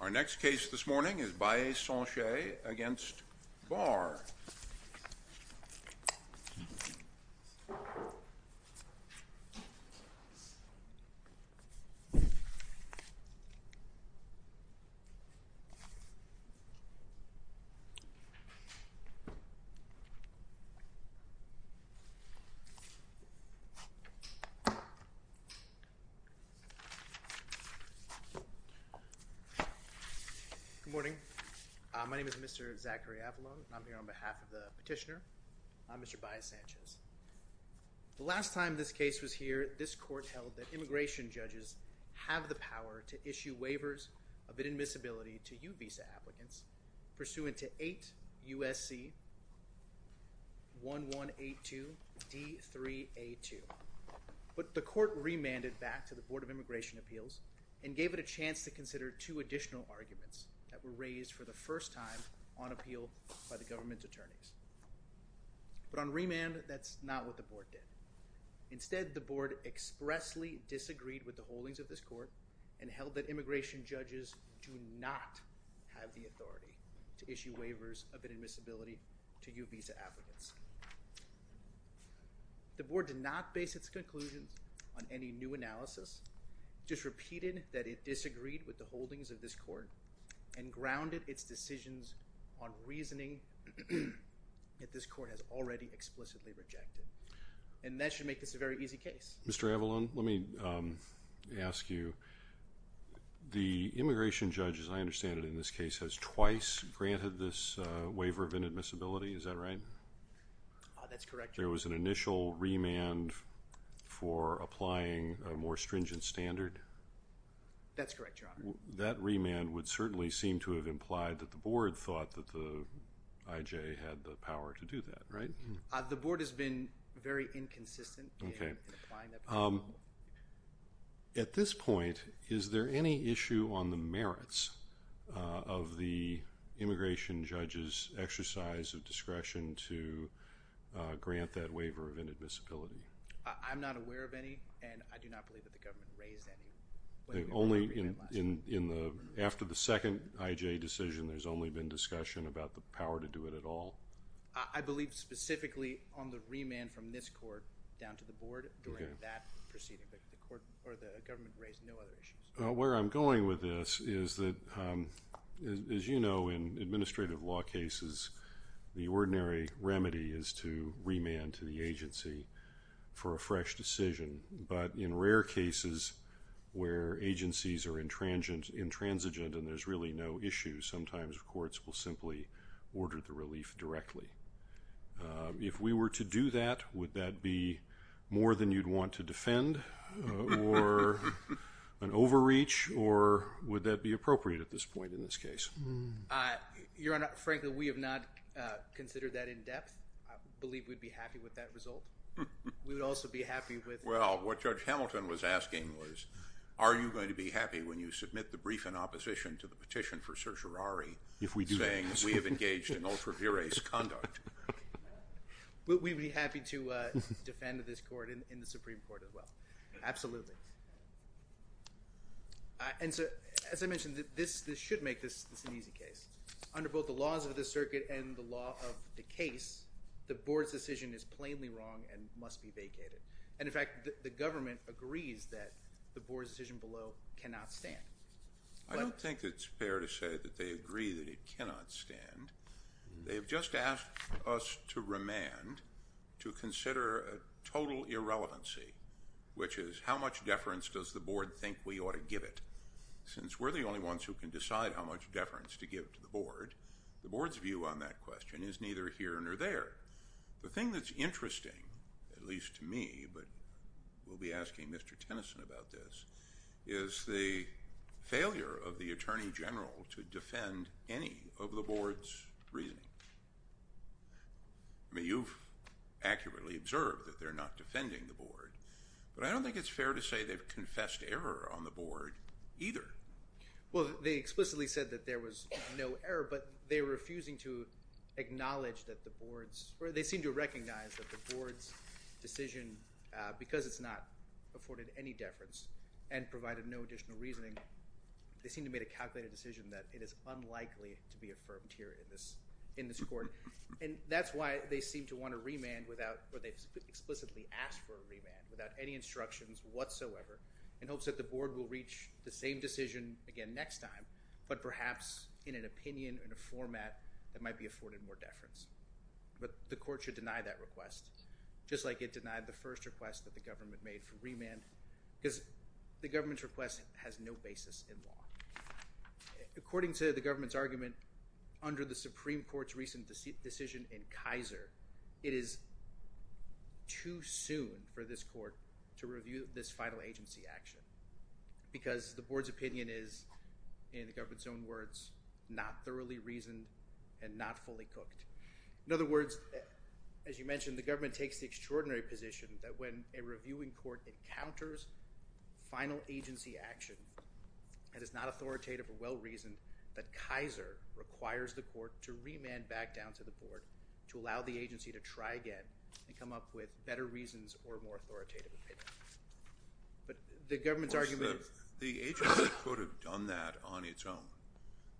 Our next case this morning is Baez-Sanchez v. Barr. Good morning. My name is Mr. Zachary Avalon. I'm here on behalf of the petitioner. I'm Mr. Baez-Sanchez. The last time this case was here, this court held that immigration judges have the power to issue waivers of inadmissibility to U-Visa applicants pursuant to 8 U.S.C. 1182 D.3.A.2. But the court remanded back to the Board of Immigration Appeals and gave it a chance to consider two additional arguments that were raised for the first time on appeal by the government attorneys. But on remand, that's not what the board did. Instead, the board expressly disagreed with the holdings of this court and held that immigration judges have the power to issue waivers of inadmissibility to U-Visa applicants. The board did not base its conclusions on any new analysis, just repeated that it disagreed with the holdings of this court and grounded its decisions on reasoning that this court has already explicitly rejected. And that should make this a very easy case. Mr. Avalon, let me ask you. The immigration judge, as I understand it in this case, has twice granted this waiver of inadmissibility. Is that right? That's correct, Your Honor. There was an initial remand for applying a more stringent standard? That's correct, Your Honor. That remand would certainly seem to have implied that the board thought that the IJ had the power to do that, right? The board has been very inconsistent in applying that. At this point, is there any issue on the merits of the immigration judge's exercise of discretion to grant that waiver of inadmissibility? I'm not aware of any, and I do not believe that the government raised any. After the second IJ decision, there's only been discussion about the power to do it at all? I believe specifically on the remand from this court down to the board during that proceeding, but the government raised no other issues. Where I'm going with this is that, as you know, in administrative law cases, the ordinary remedy is to remand to the agency for a fresh decision. But in rare cases where agencies are intransigent and there's really no issue, sometimes courts will simply order the relief directly. If we were to do that, would that be more than you'd want to defend or an overreach, or would that be appropriate at this point in this case? Your Honor, frankly, we have not considered that in depth. I believe we'd be happy with that result. We would also be happy with... Well, what Judge Hamilton was asking was, are you going to be happy when you submit the brief in opposition to the petition for certiorari... If we do that. ...saying we have engaged in ultra-viris conduct? We'd be happy to defend this court in the Supreme Court as well. Absolutely. And so, as I mentioned, this should make this an easy case. Under both the laws of this circuit and the law of the case, the board's decision is plainly wrong and must be vacated. And, in fact, the government agrees that the board's decision below cannot stand. I don't think it's fair to say that they agree that it cannot stand. They have just asked us to remand to consider a total irrelevancy, which is how much deference does the board think we ought to give it? Since we're the only ones who can decide how much deference to give to the board, the board's view on that question is neither here nor there. The thing that's interesting, at least to me, but we'll be asking Mr. Tennyson about this, is the failure of the Attorney General to defend any of the board's reasoning. I mean, you've accurately observed that they're not defending the board, but I don't think it's fair to say they've confessed error on the board either. Well, they explicitly said that there was no error, but they're refusing to acknowledge that the board's or they seem to recognize that the board's decision, because it's not afforded any deference and provided no additional reasoning, they seem to have made a calculated decision that it is unlikely to be affirmed here in this court. And that's why they seem to want to remand without or they've explicitly asked for a remand without any instructions whatsoever in hopes that the board will reach the same decision again next time, but perhaps in an opinion or in a format that might be afforded more deference. But the court should deny that request, just like it denied the first request that the government made for remand, because the government's request has no basis in law. According to the government's argument, under the Supreme Court's recent decision in Kaiser, it is too soon for this court to review this final agency action, because the board's opinion is, in the government's own words, not thoroughly reasoned and not fully cooked. In other words, as you mentioned, the government takes the extraordinary position that when a reviewing court encounters final agency action that is not authoritative or well-reasoned, that Kaiser requires the court to remand back down to the board to allow the agency to try again and come up with better reasons or more authoritative opinion. But the government's argument— Of course, the agency could have done that on its own.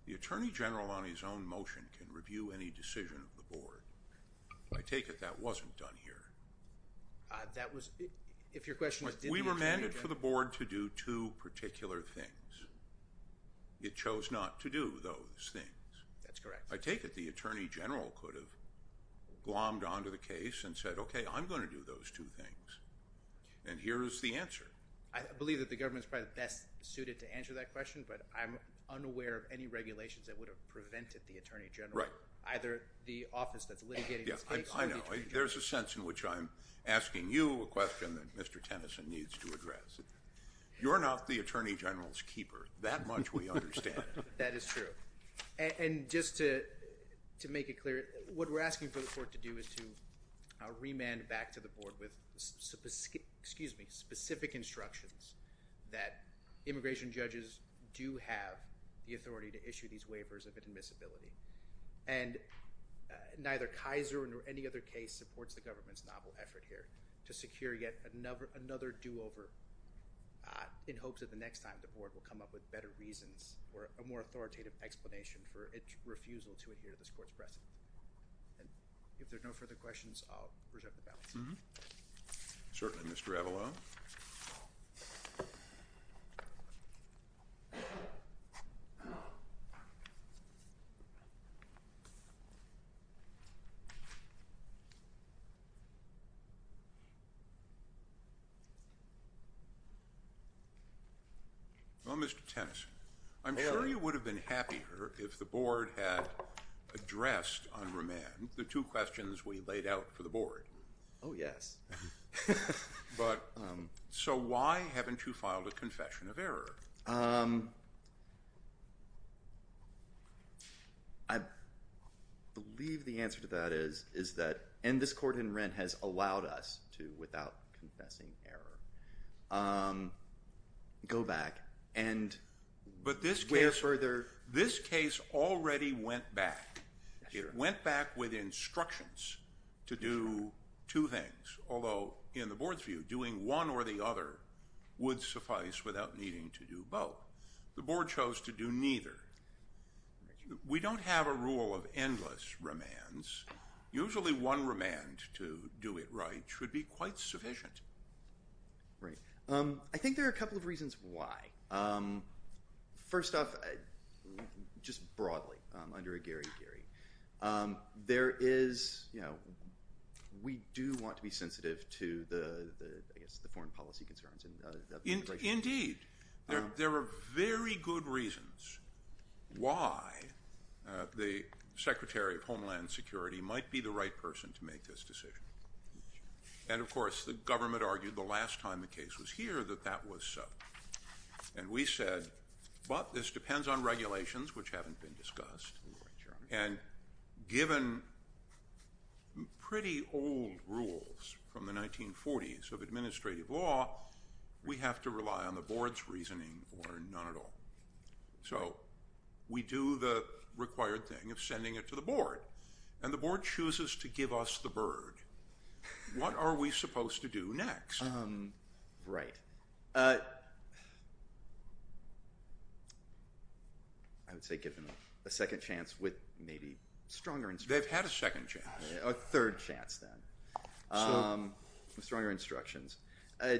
The attorney general on his own motion can review any decision of the board. I take it that wasn't done here. That was—if your question is— We remanded for the board to do two particular things. It chose not to do those things. That's correct. I take it the attorney general could have glommed onto the case and said, okay, I'm going to do those two things, and here is the answer. I believe that the government is probably best suited to answer that question, but I'm unaware of any regulations that would have prevented the attorney general, either the office that's litigating this case or the attorney general. I know. There's a sense in which I'm asking you a question that Mr. Tennyson needs to address. You're not the attorney general's keeper, that much we understand. That is true. Just to make it clear, what we're asking for the court to do is to remand back to the board with specific instructions that immigration judges do have the authority to issue these waivers of admissibility, and neither Kaiser nor any other case supports the government's novel effort here to secure yet another do-over in hopes that the next time the board will come up with better reasons or a more authoritative explanation for its refusal to adhere to this court's precedent. And if there are no further questions, I'll reject the ballot. Certainly, Mr. Avalo. Well, Mr. Tennyson, I'm sure you would have been happier if the board had addressed on remand the two questions we laid out for the board. Oh, yes. But so why haven't you filed a confession of error? I believe the answer to that is that, and this court in Wren has allowed us to, without confessing error, go back and go further. But this case already went back. It went back with instructions to do two things, although in the board's view, doing one or the other would suffice without needing to do both. The board chose to do neither. We don't have a rule of endless remands. Usually one remand to do it right should be quite sufficient. Right. I think there are a couple of reasons why. First off, just broadly, under a gary-gary, we do want to be sensitive to the foreign policy concerns. Indeed. There are very good reasons why the Secretary of Homeland Security might be the right person to make this decision. And, of course, the government argued the last time the case was here that that was so. And we said, but this depends on regulations, which haven't been discussed. And given pretty old rules from the 1940s of administrative law, we have to rely on the board's reasoning or none at all. So we do the required thing of sending it to the board. And the board chooses to give us the bird. What are we supposed to do next? Right. I would say give them a second chance with maybe stronger instructions. They've had a second chance. A third chance, then, with stronger instructions.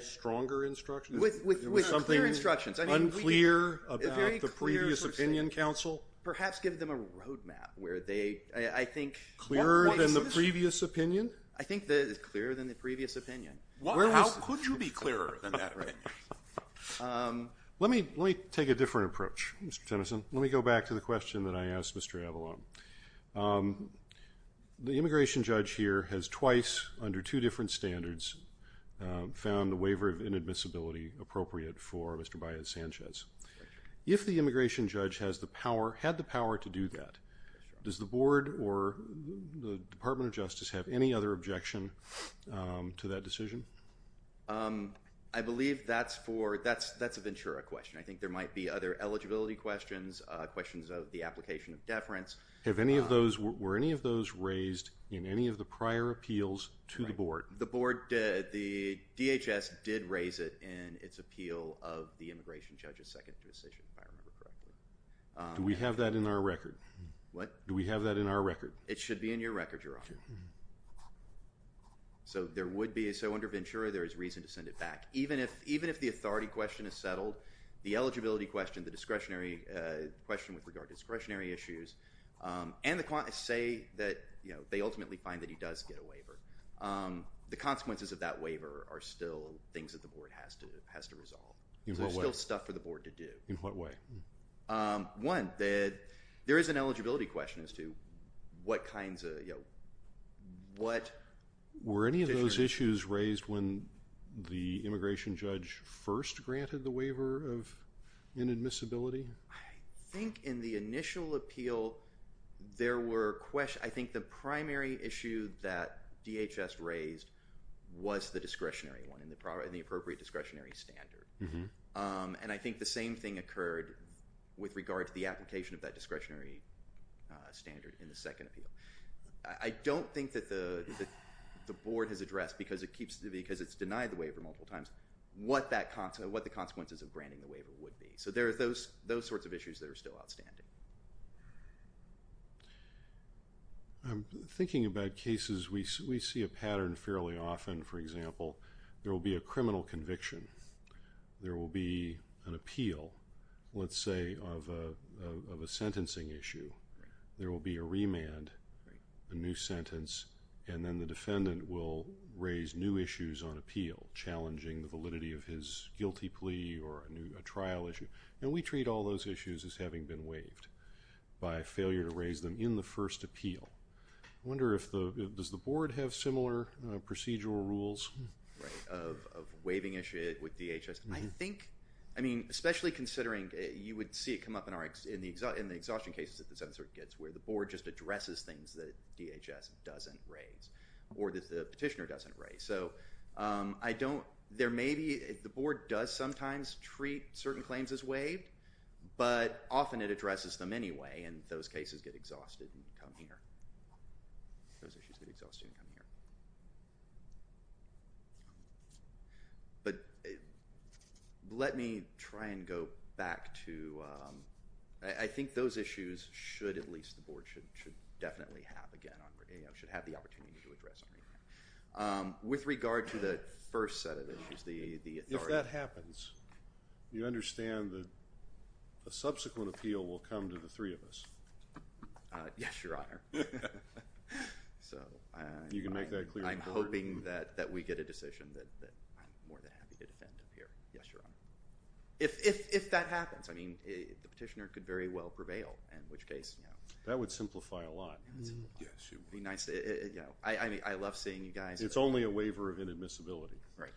Stronger instructions? With clear instructions. Something unclear about the previous opinion, counsel? Perhaps give them a road map where they, I think. Clearer than the previous opinion? I think it's clearer than the previous opinion. How could you be clearer than that opinion? Let me take a different approach, Mr. Tennyson. Let me go back to the question that I asked Mr. Avalon. The immigration judge here has twice, under two different standards, found the waiver of inadmissibility appropriate for Mr. Baez-Sanchez. If the immigration judge had the power to do that, does the board or the Department of Justice have any other objection to that decision? I believe that's a Ventura question. I think there might be other eligibility questions, questions of the application of deference. Were any of those raised in any of the prior appeals to the board? The board did. The DHS did raise it in its appeal of the immigration judge's second decision, if I remember correctly. Do we have that in our record? What? Do we have that in our record? It should be in your record, Your Honor. Thank you. So there would be, so under Ventura, there is reason to send it back. Even if the authority question is settled, the eligibility question, the discretionary question with regard to discretionary issues, and the say that they ultimately find that he does get a waiver, the consequences of that waiver are still things that the board has to resolve. In what way? There's still stuff for the board to do. In what way? One, there is an eligibility question as to what kinds of, you know, what. Were any of those issues raised when the immigration judge first granted the waiver of inadmissibility? I think in the initial appeal, there were questions, I think the primary issue that DHS raised was the discretionary one and the appropriate discretionary standard. And I think the same thing occurred with regard to the application of that discretionary standard in the second appeal. I don't think that the board has addressed, because it's denied the waiver multiple times, what the consequences of granting the waiver would be. So there are those sorts of issues that are still outstanding. Thinking about cases, we see a pattern fairly often. For example, there will be a criminal conviction. There will be an appeal, let's say, of a sentencing issue. There will be a remand, a new sentence, and then the defendant will raise new issues on appeal, challenging the validity of his guilty plea or a trial issue. And we treat all those issues as having been waived. By failure to raise them in the first appeal. I wonder if the, does the board have similar procedural rules? Right, of waiving issues with DHS. I think, I mean, especially considering you would see it come up in the exhaustion cases where the board just addresses things that DHS doesn't raise. Or that the petitioner doesn't raise. So I don't, there may be, the board does sometimes treat certain claims as waived, but often it addresses them anyway, and those cases get exhausted and come here. Those issues get exhausted and come here. But let me try and go back to, I think those issues should at least, the board should definitely have again, should have the opportunity to address on remand. With regard to the first set of issues, the authority. If that happens, you understand that a subsequent appeal will come to the three of us. Yes, Your Honor. You can make that clear to the board. I'm hoping that we get a decision that I'm more than happy to defend up here. Yes, Your Honor. If that happens, I mean, the petitioner could very well prevail, in which case. That would simplify a lot. Yes, it would. I mean, I love seeing you guys. It's only a waiver of inadmissibility. Right.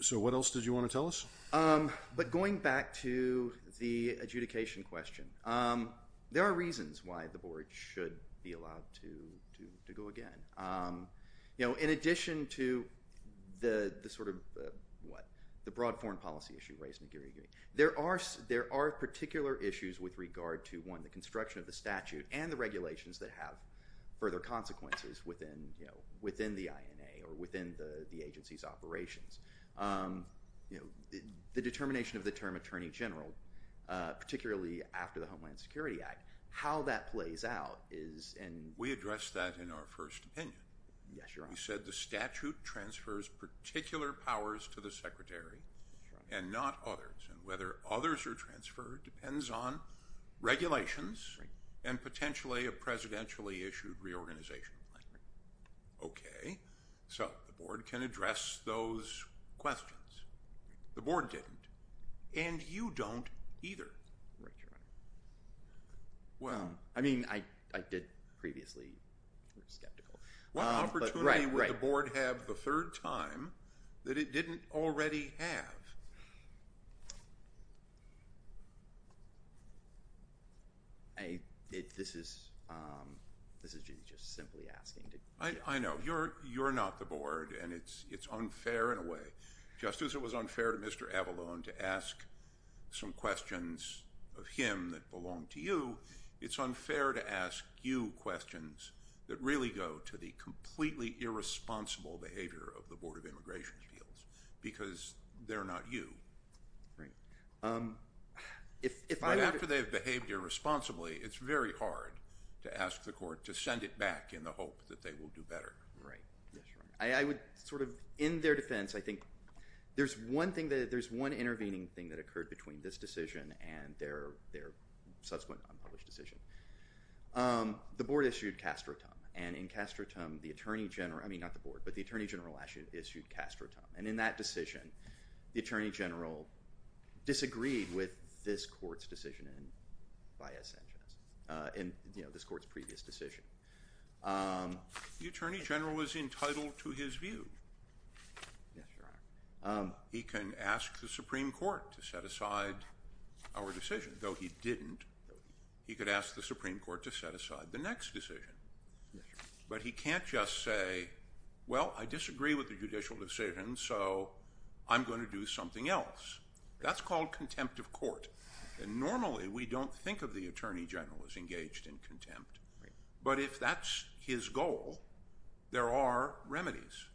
So what else did you want to tell us? But going back to the adjudication question, there are reasons why the board should be allowed to go again. You know, in addition to the sort of, what, the broad foreign policy issue raised in the Gary agreement, there are particular issues with regard to, one, the construction of the statute and the regulations that have further consequences within the INA or within the agency's operations. The determination of the term attorney general, particularly after the Homeland Security Act, how that plays out is in... We addressed that in our first opinion. Yes, Your Honor. We said the statute transfers particular powers to the secretary and not others, and whether others are transferred depends on regulations and potentially a presidentially issued reorganization plan. Okay. So the board can address those questions. The board didn't, and you don't either. Right, Your Honor. I mean, I did previously... What opportunity would the board have the third time that it didn't already have? This is just simply asking... I know. You're not the board, and it's unfair in a way. Just as it was unfair to Mr. Avalone to ask some questions of him that belonged to you, it's unfair to ask you questions that really go to the completely irresponsible behavior of the Board of Immigration Appeals because they're not you. Right. But after they've behaved irresponsibly, it's very hard to ask the court to send it back in the hope that they will do better. Right, yes, Your Honor. I would sort of, in their defense, I think there's one intervening thing that occurred between this decision and their subsequent unpublished decision. The board issued castratum, and in castratum, the Attorney General... I mean, not the board, but the Attorney General issued castratum, and in that decision, the Attorney General disagreed with this court's decision, and this court's previous decision. The Attorney General was entitled to his view. Yes, Your Honor. He can ask the Supreme Court to set aside our decision, though he didn't. He could ask the Supreme Court to set aside the next decision. But he can't just say, well, I disagree with the judicial decision, so I'm going to do something else. That's called contempt of court. Normally, we don't think of the Attorney General as engaged in contempt. But if that's his goal, there are remedies.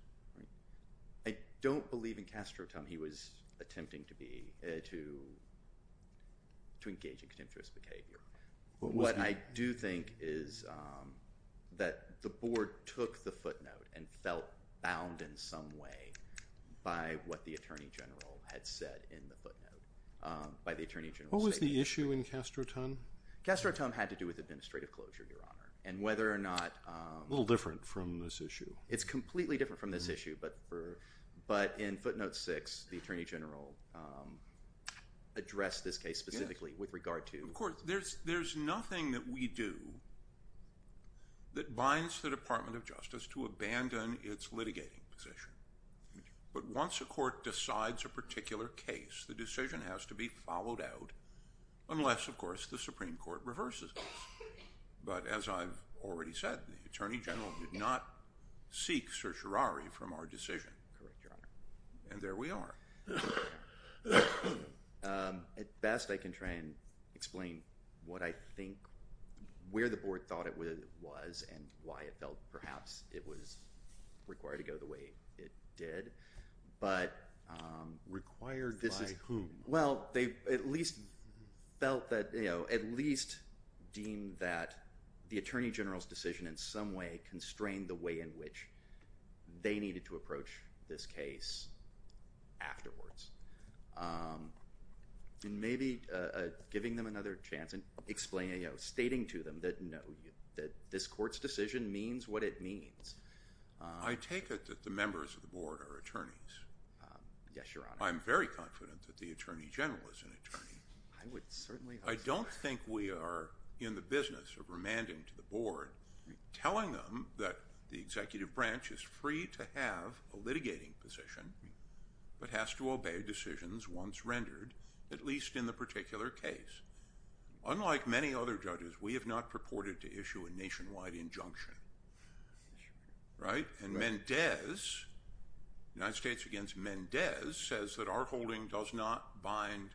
I don't believe in castratum he was attempting to engage in contemptuous behavior. What I do think is that the board took the footnote and felt bound in some way by what the Attorney General had said in the footnote, by the Attorney General's statement. What was the issue in castratum? Castratum had to do with administrative closure, Your Honor, and whether or not... A little different from this issue. It's completely different from this issue. But in footnote 6, the Attorney General addressed this case specifically with regard to... Of course, there's nothing that we do that binds the Department of Justice to abandon its litigating position. But once a court decides a particular case, the decision has to be followed out, unless, of course, the Supreme Court reverses it. But as I've already said, the Attorney General did not seek certiorari from our decision. Correct, Your Honor. And there we are. At best, I can try and explain what I think, where the board thought it was and why it felt perhaps it was required to go the way it did. But... Required by whom? Well, they at least felt that... At least deemed that the Attorney General's decision in some way constrained the way in which they needed to approach this case afterwards. And maybe giving them another chance and explaining... Stating to them that no, this court's decision means what it means. I take it that the members of the board are attorneys. Yes, Your Honor. I'm very confident that the Attorney General is an attorney. I would certainly hope so. I don't think we are in the business of remanding to the board, telling them that the executive branch is free to have a litigating position but has to obey decisions once rendered, at least in the particular case. Unlike many other judges, we have not purported to issue a nationwide injunction. Right? And Mendez, United States against Mendez, says that our holding does not bind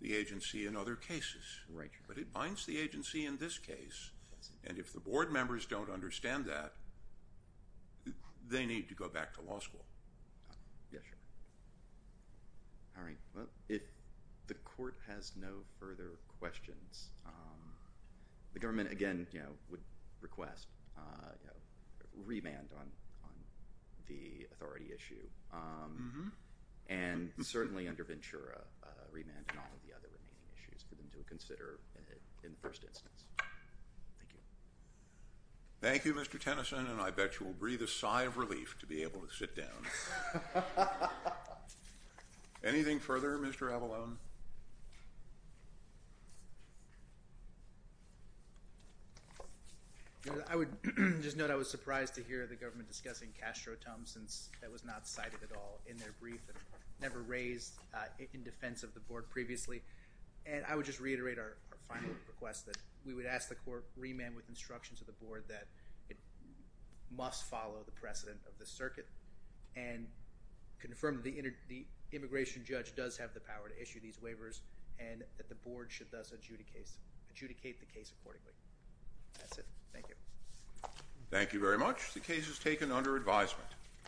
the agency in other cases. Right, Your Honor. But it binds the agency in this case. And if the board members don't understand that, they need to go back to law school. Yes, Your Honor. All right. Well, if the court has no further questions, the government, again, would request a remand on the authority issue and certainly under Ventura a remand on all of the other remaining issues for them to consider in the first instance. Thank you. Thank you, Mr. Tennyson, and I bet you will breathe a sigh of relief to be able to sit down. Anything further, Mr. Avalone? I would just note I was surprised to hear the government discussing Castro-Tum since that was not cited at all in their brief and never raised in defense of the board previously. And I would just reiterate our final request that we would ask the court remand with instruction to the board that it must follow the precedent of the circuit and confirm that the immigration judge does have the power to issue these waivers and that the board should thus adjudicate the case accordingly. That's it. Thank you. Thank you very much. The case is taken under advisement.